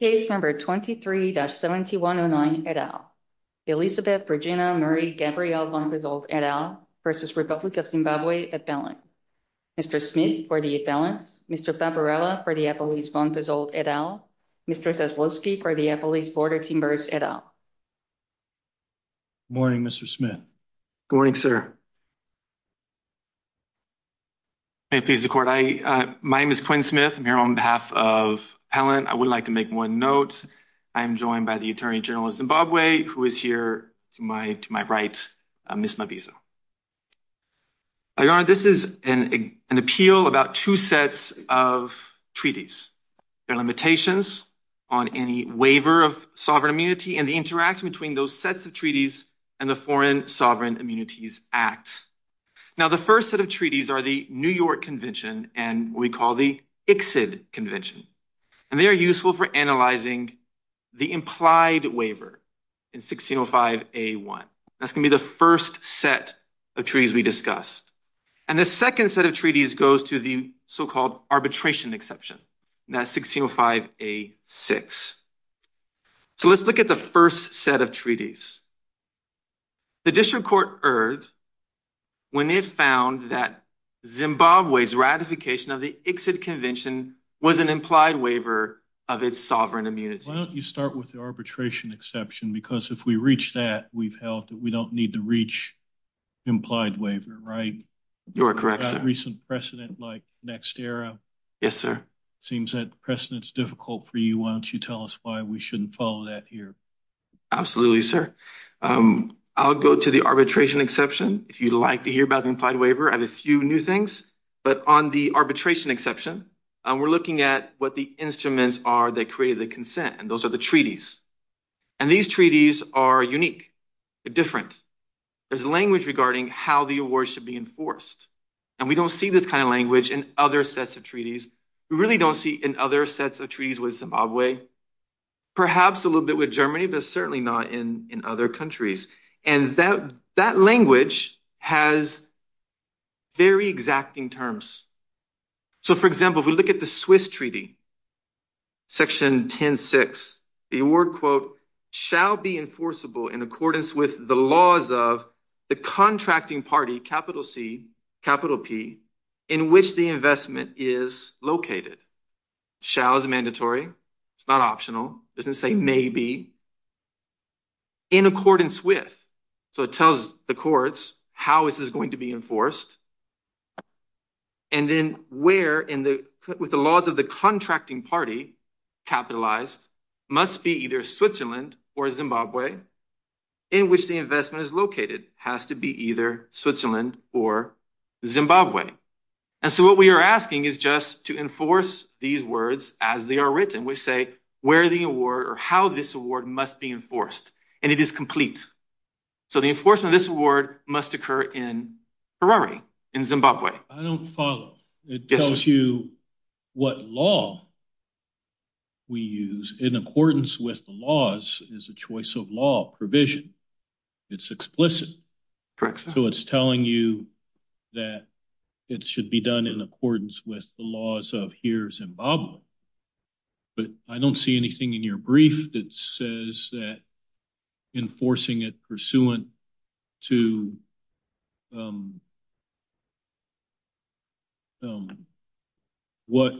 Case number 23-7109 et al. Elisabeth Regina Marie Gabrielle von Pezold et al. versus Republic of Zimbabwe et al. Mr. Smith for the balance. Mr. Fabarella for the appellees von Pezold et al. Mr. Zaslowski for the appellees border timbers et al. Morning Mr. Smith. Good morning sir. May it please the court. My name is Quinn Smith. I'm here on behalf of Appellant. I would like to make one note. I am joined by the Attorney General of Zimbabwe who is here to my right, Ms. Mabizo. Your Honor, this is an appeal about two sets of treaties. Their limitations on any waiver of sovereign immunity and the interaction between those sets of treaties and the Foreign Sovereign Immunities Act. Now the first set of treaties are the New York Convention and what we call the ICSID Convention. And they are useful for analyzing the implied waiver in 1605 A1. That's going to be the first set of treaties we discussed. And the second set of treaties goes to the so-called arbitration exception. That's 1605 A6. So let's look at the first set of treaties. The District Court erred when it found that Zimbabwe's ratification of the ICSID Convention was an implied waiver of its sovereign immunity. Why don't you start with the arbitration exception? Because if we reach that, we've held that we don't need to reach implied waiver, right? You're correct, sir. Recent precedent like NextEra. Yes, sir. Seems that precedent's difficult for you. Why don't you tell us why we shouldn't follow that here? Absolutely, sir. I'll go to the arbitration exception. If you'd like to hear about the but on the arbitration exception, we're looking at what the instruments are that created the consent. And those are the treaties. And these treaties are unique. They're different. There's language regarding how the award should be enforced. And we don't see this kind of language in other sets of treaties. We really don't see in other sets of treaties with Zimbabwe. Perhaps a little bit with Germany, but certainly not in other countries. And that language has very exacting terms. So for example, if we look at the Swiss treaty, section 10-6, the award quote, shall be enforceable in accordance with the laws of the contracting party, capital C, capital P, in which the investment is located. Shall is mandatory. It's not optional. It doesn't say maybe. In accordance with, so it tells the courts, how is this going to be enforced? And then where in the with the laws of the contracting party, capitalized must be either Switzerland or Zimbabwe, in which the investment is located has to be either Switzerland or Zimbabwe. And so what we are asking is just to enforce these words as they are written, where the award or how this award must be enforced. And it is complete. So the enforcement of this award must occur in Harare, in Zimbabwe. I don't follow. It tells you what law we use in accordance with the laws is a choice of law provision. It's explicit. So it's telling you that it should be done in accordance with the laws of here, Zimbabwe. But I don't see anything in your brief that says that enforcing it pursuant to what,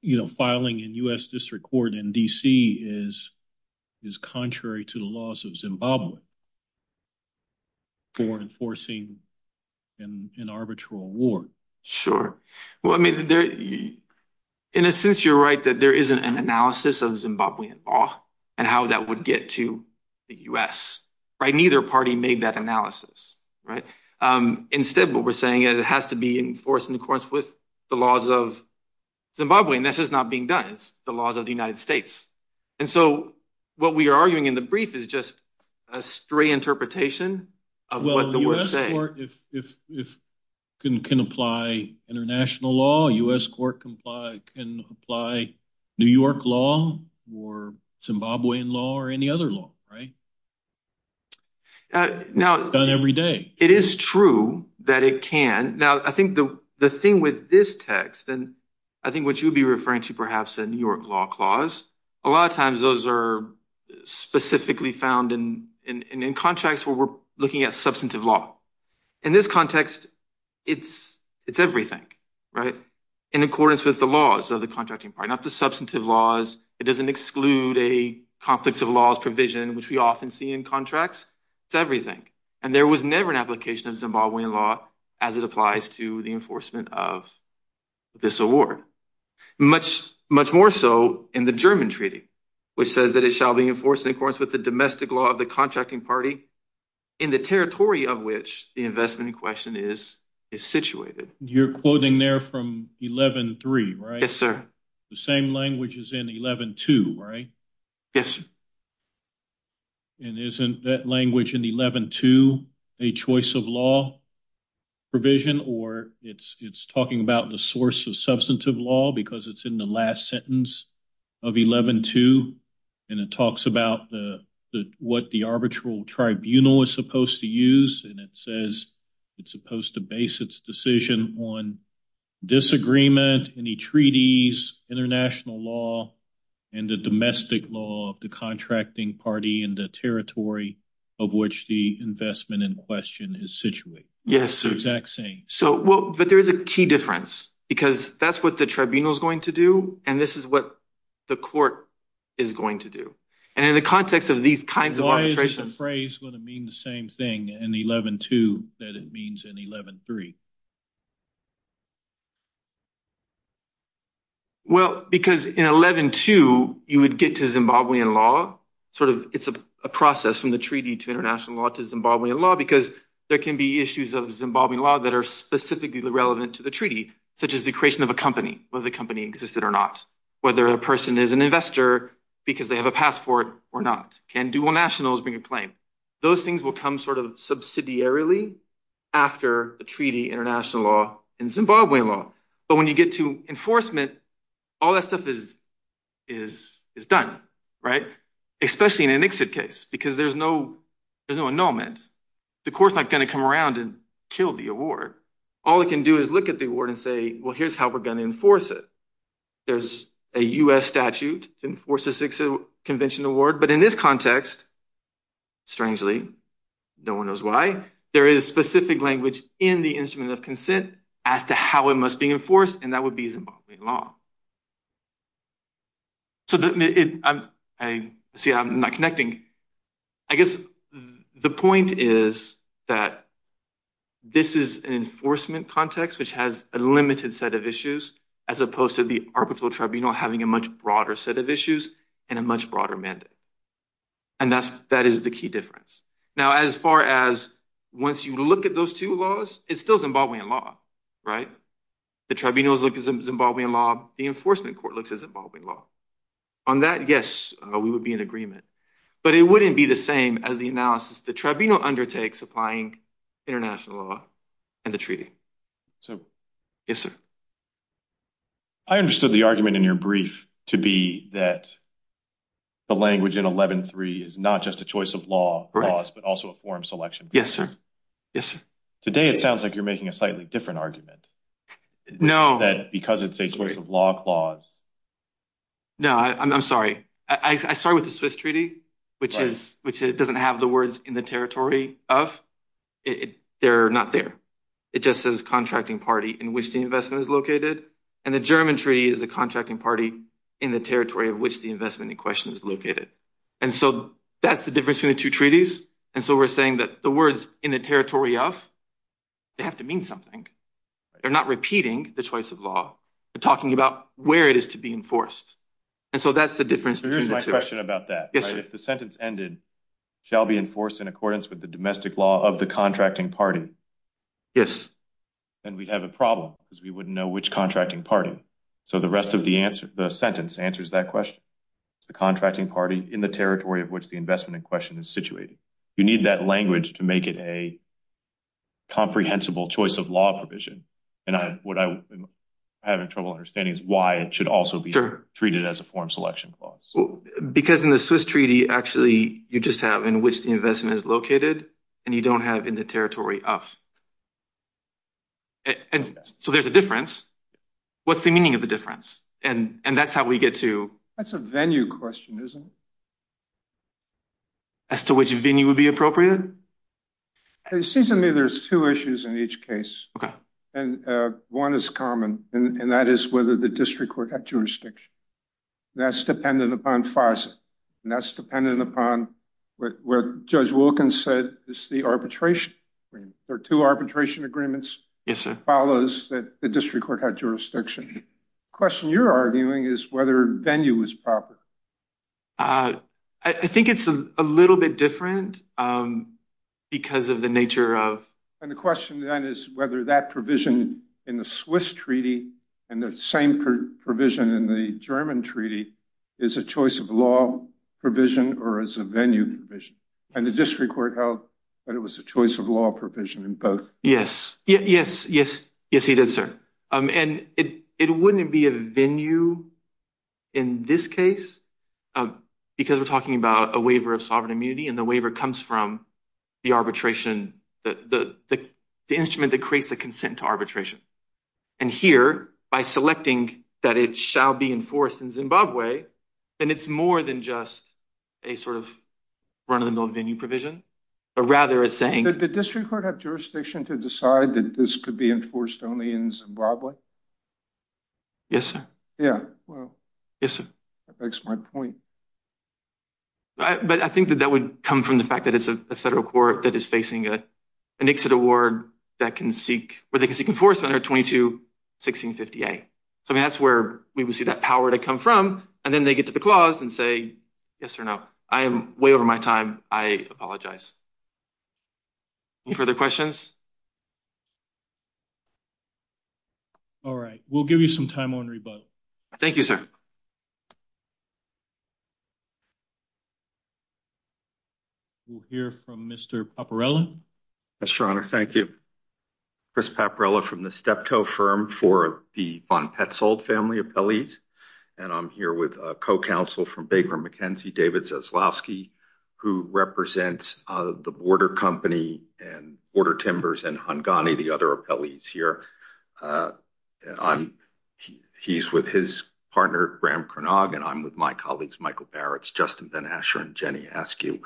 you know, filing in U.S. District Court in D.C. is is contrary to the laws of Zimbabwe for enforcing an arbitral award. Sure. Well, I mean, in a sense, you're right that there isn't an analysis of Zimbabwean law and how that would get to the U.S. Neither party made that analysis. Instead, what we're saying is it has to be enforced in accordance with the laws of Zimbabwe. And this is not being done. It's the laws of the United States. And so what we are arguing in the interpretation of what the U.S. court can apply international law, U.S. court can apply New York law or Zimbabwean law or any other law. Right. Now, every day, it is true that it can. Now, I think the thing with this text and I think what you'd be referring to perhaps in your law clause, a lot of times those are specifically found in contracts where we're looking at substantive law. In this context, it's it's everything right in accordance with the laws of the contracting party, not the substantive laws. It doesn't exclude a conflict of laws provision, which we often see in contracts. It's everything. And there was never an application of Zimbabwean law as it applies to the enforcement of this award. Much, much more so in the German treaty, which says that it shall be enforced in accordance with the domestic law of the contracting party in the territory of which the investment in question is situated. You're quoting there from 11-3, right? Yes, sir. The same language is in 11-2, right? Yes, sir. And isn't that language in 11-2 a choice of law provision or it's it's talking about the source of substantive law because it's in the last sentence of 11-2 and it talks about the what the arbitral tribunal is supposed to use and it says it's supposed to base its decision on disagreement in the treaties, international law and the domestic law of the contracting party in the territory of which the investment in question is situated. Yes, sir. Exactly. So, well, but there is a key difference because that's what the tribunal is going to do. And this is what the court is going to do. And in the context of these kinds of arbitrations. Is the phrase going to mean the same thing in 11-2 that it means in 11-3? Well, because in 11-2, you would get to Zimbabwean law, sort of it's a process from the treaty to international law to Zimbabwean law, because there can be issues of Zimbabwean law that are specifically relevant to the treaty, such as the creation of a company, whether the company existed or not, whether a person is an investor because they have a passport or not. Can dual nationals bring a claim? Those things will come sort of subsidiarily after the treaty, international law and Zimbabwean law. But when you get to enforcement, all that stuff is done, right? Especially in an exit case, because there's no annulment. The court's not going to come around and kill the award. All it can do is look at the award and say, well, here's how we're going to enforce it. There's a U.S. statute to enforce a six-convention award. But in this context, strangely, no one knows why, there is specific language in the instrument of consent as to how it must be enforced, and that would be Zimbabwean law. So see, I'm not connecting. I guess the point is that this is an enforcement context, which has a limited set of issues, as opposed to the arbitral tribunal having a much broader set of issues and a much broader mandate. And that is the key difference. Now, as far as once you look at those two laws, it's still Zimbabwean law, right? The tribunals look at Zimbabwean law. The enforcement court looks at Zimbabwean law. On that, yes, we would be in agreement. But it wouldn't be the same as the analysis the tribunal undertakes applying international law and the treaty. So, yes, sir. I understood the argument in your brief to be that the language in 11.3 is not just a choice of laws, but also a form selection. Yes, sir. Yes, sir. Today, it sounds like you're making a slightly different argument. No. That because it's a choice of law clause. No, I'm sorry. I started with the Swiss treaty, which doesn't have the words in the territory of they're not there. It just says contracting party in which the investment is located. And the German treaty is the contracting party in the territory of which the investment in question is located. And so that's the difference between the two treaties. And so we're saying that the words in the territory of they have to mean something. They're not repeating the choice of law. They're talking about where it is to be enforced. And so that's the difference. So here's my question about that. Yes, sir. So the sentence ended shall be enforced in accordance with the domestic law of the contracting party. Yes. And we have a problem because we wouldn't know which contracting party. So the rest of the answer, the sentence answers that question. The contracting party in the territory of which the investment in question is situated. You need that language to make it a comprehensible choice of law provision. And what I'm having trouble understanding is why it should also be treated as a form selection clause. Because in the Swiss treaty, actually, you just have in which the investment is located and you don't have in the territory of. And so there's a difference. What's the meaning of the difference? And that's how we get to. That's a venue question, isn't it? As to which venue would be appropriate. It seems to me there's two issues in each case. And one is common. And that is whether the district court had jurisdiction. That's dependent upon FASA. And that's dependent upon what Judge Wilkins said is the arbitration. There are two arbitration agreements. Yes, sir. Follows that the district court had jurisdiction. The question you're arguing is whether venue is proper. I think it's a little bit different because of the nature of. And the question then is whether that provision in the Swiss treaty and the same provision in the German treaty is a choice of law provision or is a venue provision. And the district court held that it was a choice of law provision in both. Yes. Yes. Yes. Yes, he did, sir. And it wouldn't be a venue in this case because we're talking about a waiver of sovereign immunity and the waiver comes from the arbitration, the instrument that creates the consent to arbitration. And here, by selecting that it shall be enforced in Zimbabwe, then it's more than just a sort of run of the mill venue provision, but rather it's saying. Did the district court have jurisdiction to decide that this could be enforced only in Zimbabwe? Yes, sir. Yeah, well. That's a smart point. But I think that that would come from the fact that it's a federal court that is facing an exit award that can seek, where they can seek enforcement under 22-1658. So, I mean, that's where we would see that power to come from and then they get to the clause and say, yes or no. I am way over my time. I apologize. Any further questions? All right. We'll give you some time on rebuttal. Thank you, sir. We'll hear from Mr. Paparella. Yes, your honor. Thank you. Chris Paparella from the Steptoe firm for the Von Petzold family of appellees. And I'm here with a co-counsel from Baker McKenzie, David Zaslowski, who represents the Border Company and Border Timbers and Hungani, the other appellees here. He's with his partner, Graham Cronog, and I'm with my colleagues, Michael Barrett, Justin Ben Asher, and Jenny Askew.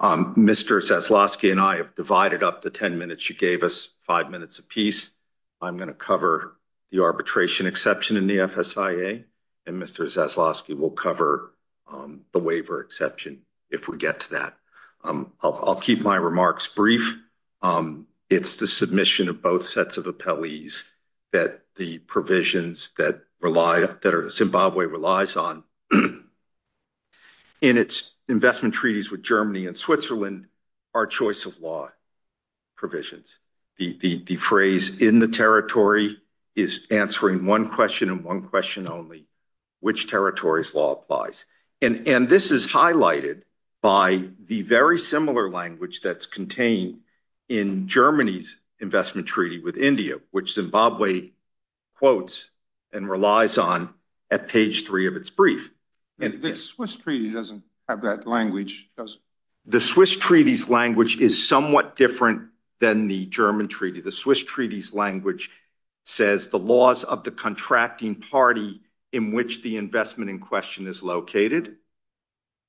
Mr. Zaslowski and I have divided up the 10 minutes you gave us, five minutes apiece. I'm going to cover the arbitration exception in the FSIA and Mr. Zaslowski will cover the waiver exception if we get to that. I'll keep my remarks brief. It's the submission of both sets of appellees that the provisions that Zimbabwe relies on in its investment treaties with Germany and Switzerland are choice of law provisions. The phrase in the territory is answering one question and one question only, which territory's law applies. And this is highlighted by the very similar language that's contained in Germany's investment treaty with India, which Zimbabwe quotes and relies on at page three of its brief. The Swiss treaty doesn't have that language, does it? The Swiss treaty's language is somewhat different than the German treaty. The Swiss treaty's language says the laws of the contracting party in which the investment in question is located.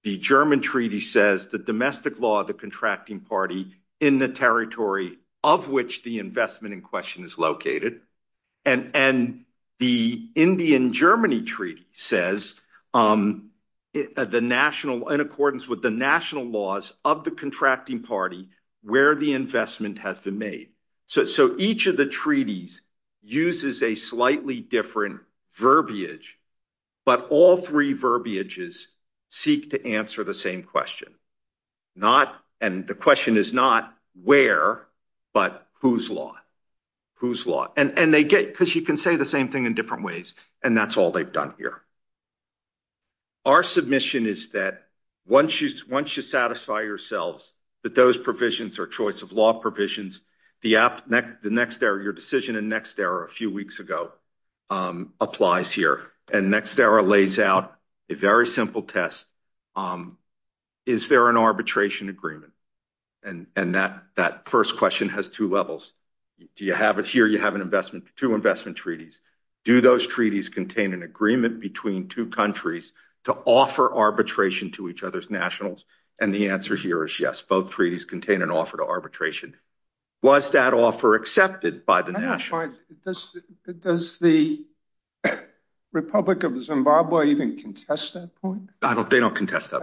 The German treaty says the domestic law of the contracting party in the territory of which the investment in question is located. And the Indian-Germany treaty says, in accordance with the national laws of the contracting party, where the investment has been made. So each of the treaties uses a slightly different verbiage, but all three verbiages seek to answer the same question. And the question is not where, but whose law. Because you can say the same thing in different ways, and that's all they've done here. Our submission is that once you satisfy yourselves that those provisions are law provisions, your decision in NextEra a few weeks ago applies here. And NextEra lays out a very simple test. Is there an arbitration agreement? And that first question has two levels. Here you have two investment treaties. Do those treaties contain an agreement between two countries to offer arbitration to each other's and the answer here is yes. Both treaties contain an offer to arbitration. Was that offer accepted by the nation? Does the Republic of Zimbabwe even contest that point? They don't contest that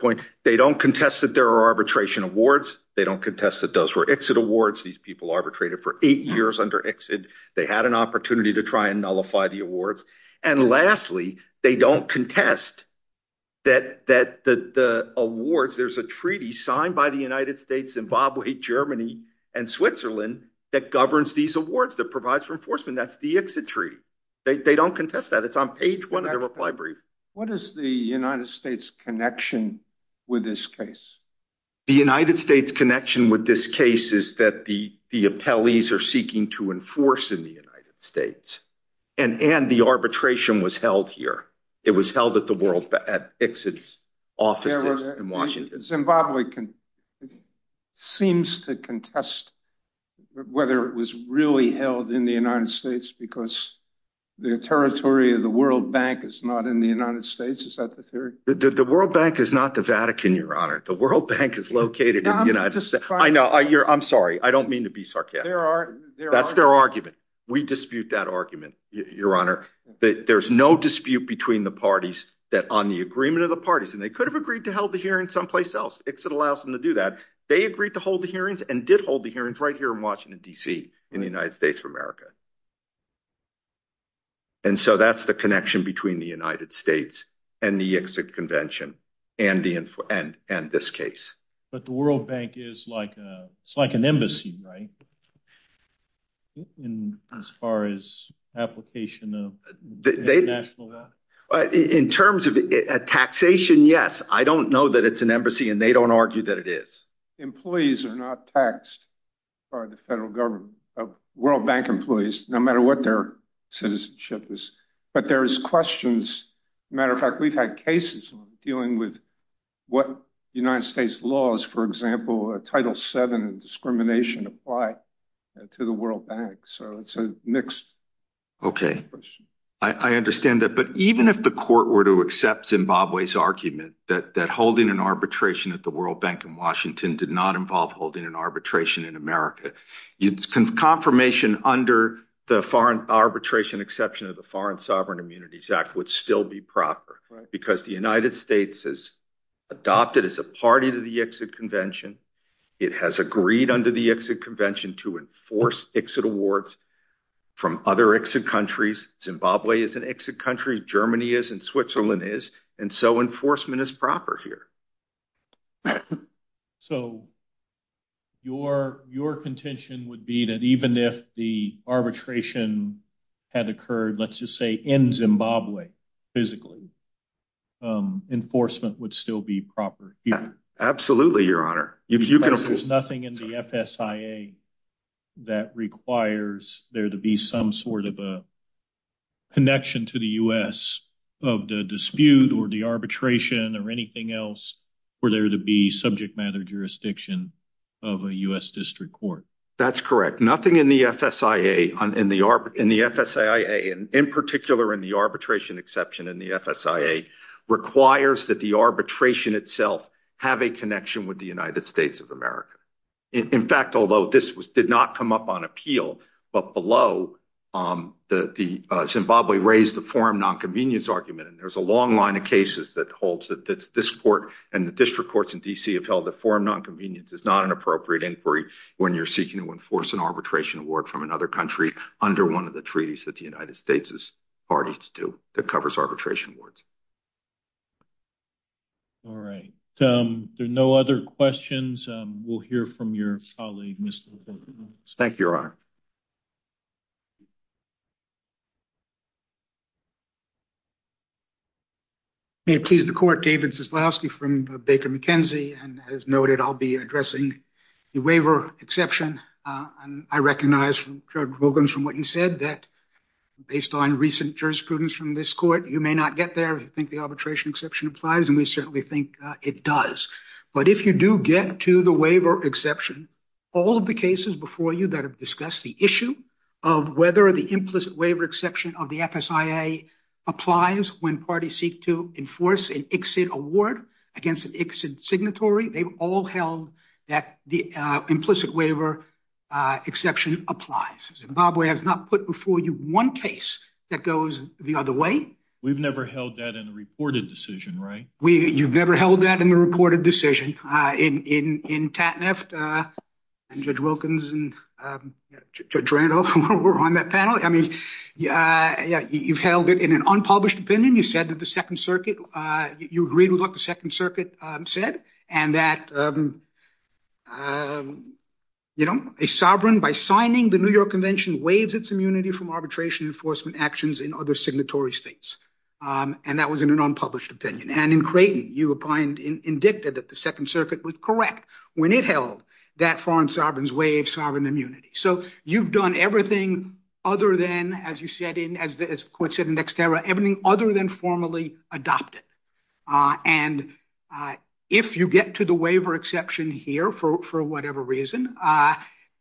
point. They don't contest that there are arbitration awards. They don't contest that those were exit awards. These people arbitrated for eight years under exit. They had an opportunity to try and nullify the awards. And lastly, they don't contest that the awards, there's a treaty signed by the United States, Zimbabwe, Germany, and Switzerland that governs these awards, that provides for enforcement. That's the exit treaty. They don't contest that. It's on page one of the reply brief. What is the United States connection with this case? The United States connection with this case is that the appellees are seeking to enforce in the exit office in Washington. Zimbabwe seems to contest whether it was really held in the United States because the territory of the World Bank is not in the United States. Is that the theory? The World Bank is not the Vatican, Your Honor. The World Bank is located in the United States. I know. I'm sorry. I don't mean to be sarcastic. That's their argument. We dispute that argument, Your Honor. There's no dispute between the parties that on the agreement of the parties, and they could have agreed to hold the hearing someplace else. Exit allows them to do that. They agreed to hold the hearings and did hold the hearings right here in Washington, D.C. in the United States of America. And so that's the connection between the United States and the exit convention and this case. But the World Bank is like an embassy, right? In as far as application of the national. In terms of a taxation, yes. I don't know that it's an embassy and they don't argue that it is. Employees are not taxed by the federal government of World Bank employees, no matter what their citizenship is. But there is questions. Matter of fact, we've had cases dealing with what United States laws, for example, Title seven and discrimination apply to the World Bank. So it's a mixed. OK, I understand that. But even if the court were to accept Zimbabwe's argument that holding an arbitration at the World Bank in Washington did not involve holding an arbitration in America, it's confirmation under the foreign arbitration exception of the Foreign Sovereign Immunities Act would still be proper because the United States has adopted as a party to the exit convention. It has agreed under the exit convention to enforce exit awards from other exit countries. Zimbabwe is an exit country. Germany is and Switzerland is. And so enforcement is proper here. So. Your your contention would be that even if the arbitration had occurred, let's just say in Zimbabwe physically. Enforcement would still be proper. Absolutely, your honor. If you can. There's nothing in the FSA that requires there to be some sort of a. Connection to the US of the dispute or the arbitration or anything else where there to be subject matter jurisdiction of a US district court. That's correct. Nothing in the FSA in the in the FSA, in particular, in the arbitration exception in the FSA requires that the arbitration itself have a connection with the United States of America. In fact, although this was did not come up on appeal, but below the Zimbabwe raised the forum nonconvenience argument. And there's a long line of cases that holds that this court and the district courts in DC have held the forum nonconvenience is not an appropriate inquiry when you're seeking to enforce an arbitration award from another country under one of the arbitration awards. All right, there are no other questions. We'll hear from your colleague. Thank you, your honor. May it please the court. David's is lastly from Baker McKenzie and as noted, I'll be addressing the waiver exception. I recognize from what you said that based on recent jurisprudence from this court, you may not get there if you think the arbitration exception applies, and we certainly think it does. But if you do get to the waiver exception, all of the cases before you that have discussed the issue of whether the implicit waiver exception of the FSIA applies when parties seek to enforce an exit award against an exit signatory, they've all held that the implicit waiver exception applies. Zimbabwe has not put before you one case that goes the other way. We've never held that in a reported decision, right? We you've never held that in the reported decision in in in Tatneft and Judge Wilkins and Judge Randolph were on that panel. I mean, yeah, yeah, you've held it in an unpublished opinion. You said that the Second Circuit, you agreed with what the Second Circuit said, and that you know, a sovereign by signing the New York Convention waives its immunity from arbitration enforcement actions in other signatory states. And that was in an unpublished opinion. And in Creighton, you opined, indicted that the Second Circuit was correct when it held that foreign sovereign's way of sovereign immunity. So you've done everything other than, as you said in, as the court said in dextera, everything other than formally adopted. And if you get to the waiver exception here, for whatever reason,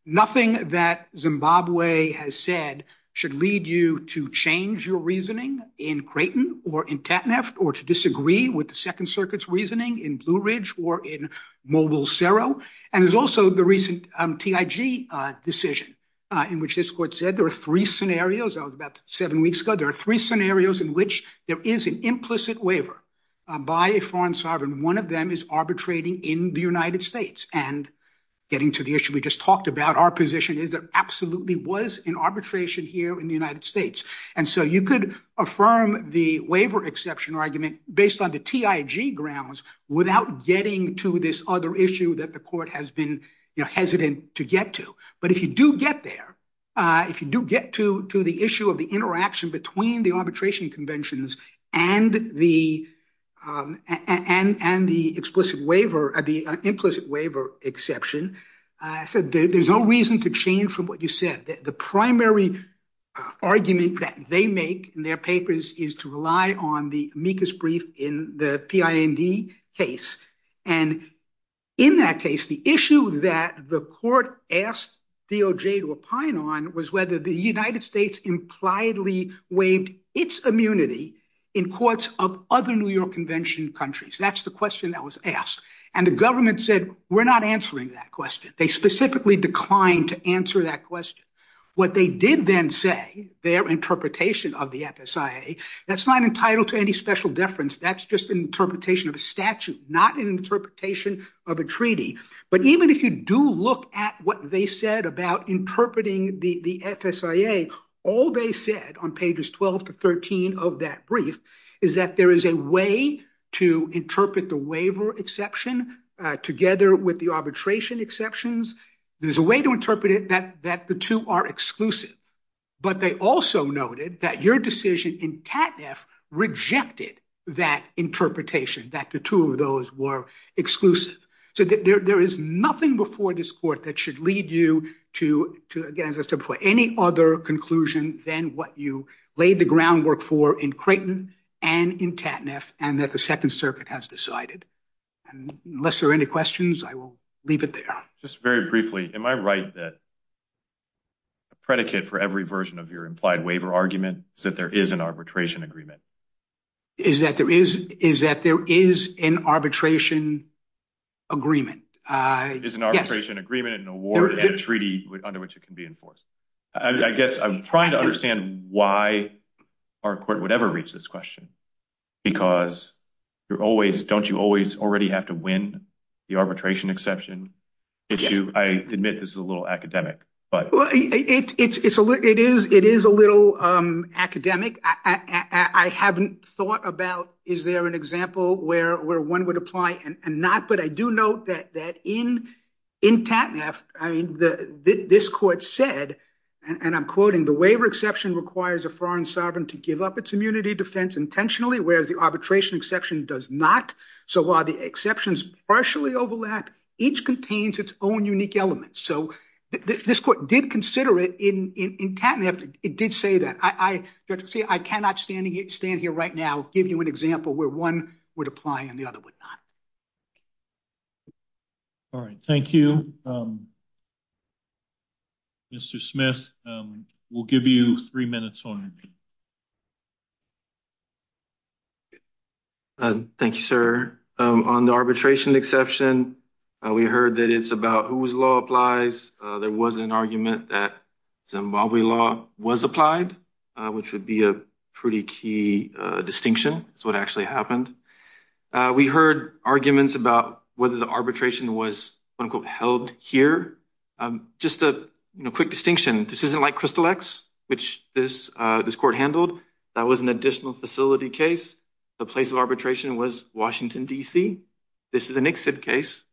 nothing that Zimbabwe has said should lead you to change your reasoning in Creighton or in Tatneft or to disagree with the Second Circuit's reasoning in Blue Ridge or in Mobile Cerro. And there's also the recent TIG decision, in which this court said there are three scenarios about seven weeks ago, there are three scenarios in which there is an implicit waiver by a foreign sovereign, one of them is arbitrating in the United States. And getting to the issue we just talked about, our position is that absolutely was in arbitration here in the United States. And so you could affirm the waiver exception argument based on the TIG grounds without getting to this other issue that the court has been hesitant to get to. But if you do get there, if you do get to the issue of the interaction between the arbitration conventions and the implicit waiver exception, there's no reason to change from what you said. The primary argument that they make in their papers is to rely on the amicus brief in the PIND case. And in that case, the issue that the court asked DOJ to opine on was whether the United States impliedly waived its immunity in courts of other New York Convention countries. That's the question that was asked. And the government said, we're not answering that question. They specifically declined to answer that question. What they did then say, their interpretation of the FSIA, that's not entitled to any special deference. That's just an interpretation of a statute, not an interpretation of a treaty. But even if you do look at what they said about interpreting the FSIA, all they said on pages 12 to 13 of that brief is that there is a way to interpret the waiver exception together with the arbitration exceptions. There's a way to interpret it that the two are exclusive. But they also noted that your decision in TATF rejected that interpretation, that the two of those were exclusive. So there is nothing before this court that should lead you to, again as I said before, any other conclusion than what you laid the groundwork for in Creighton and in TATF and that the Second Circuit has decided. And unless there are any questions, I will leave it there. Just very briefly, am I right that a predicate for every version of your implied waiver argument is that there is an arbitration agreement? Is that there is an arbitration agreement? Is an arbitration agreement an award and a treaty under which it can be enforced? I guess I'm trying to understand why our court would ever reach this question because you're always, don't you always already have to win the arbitration exception issue? I admit this is a little academic, but... It is a little academic. I haven't thought about is there an example where one would apply and not, but I do note that in TATF, I mean, this court said, and I'm quoting, the waiver exception requires a foreign sovereign to give up its immunity defense intentionally, whereas the arbitration exception does not. So while the exceptions partially overlap, each contains its own unique elements. So this court did consider it in TATF. It did say that. I cannot stand here right now, give you an example where one would apply and the other would not. All right. Thank you. Mr. Smith, we'll give you three minutes on it. Thank you, sir. On the arbitration exception, we heard that it's about whose law applies. There was an argument that Zimbabwe law was applied, which would be a pretty key distinction, is what actually happened. We heard arguments about whether the arbitration was quote, here. Just a quick distinction. This isn't like Crystal X, which this court handled. That was an additional facility case. The place of arbitration was Washington DC. This is an exit case,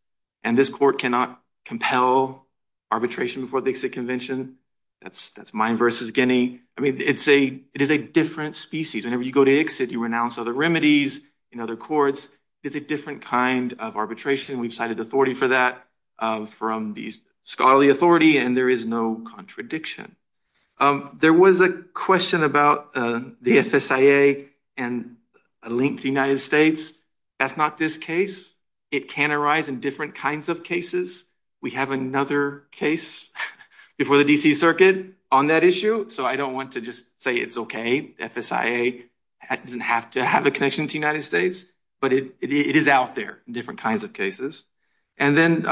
and this court cannot compel arbitration before the exit convention. That's mine versus Guinea. I mean, it is a different species. Whenever you go to exit, you renounce other remedies in other courts. It's a different kind of arbitration. We've cited authority for that from the scholarly authority, and there is no contradiction. There was a question about the FSIA and a link to the United States. That's not this case. It can arise in different kinds of cases. We have another case before the DC Circuit on that issue, so I don't want to just say it's okay. FSIA doesn't have to have a connection to the United States, but it is out there in different kinds of cases. Then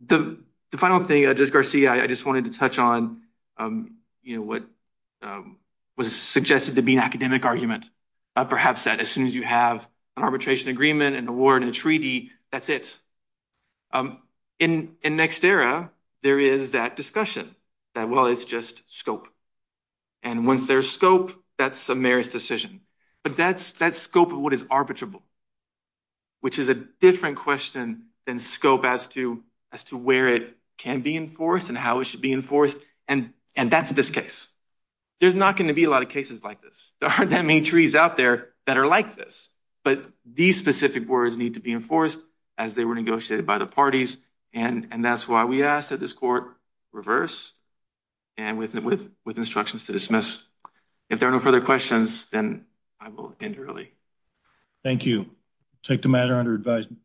the final thing, Judge Garcia, I just wanted to touch on what was suggested to be an academic argument, perhaps that as soon as you have an arbitration agreement, an award, and a treaty, that's it. In Next Era, there is that discussion that, well, it's just scope. Once there's scope, that's a meritorious decision, but that scope of what is arbitrable, which is a different question than scope as to where it can be enforced and how it should be enforced, and that's this case. There's not going to be a lot of cases like this. There aren't that many trees out there that are like this, but these specific words need to be enforced as they were negotiated by the parties, and that's why we ask that this court reverse and with instructions to dismiss. If there are no further questions, then I will end early. Thank you. Take the matter under advisement.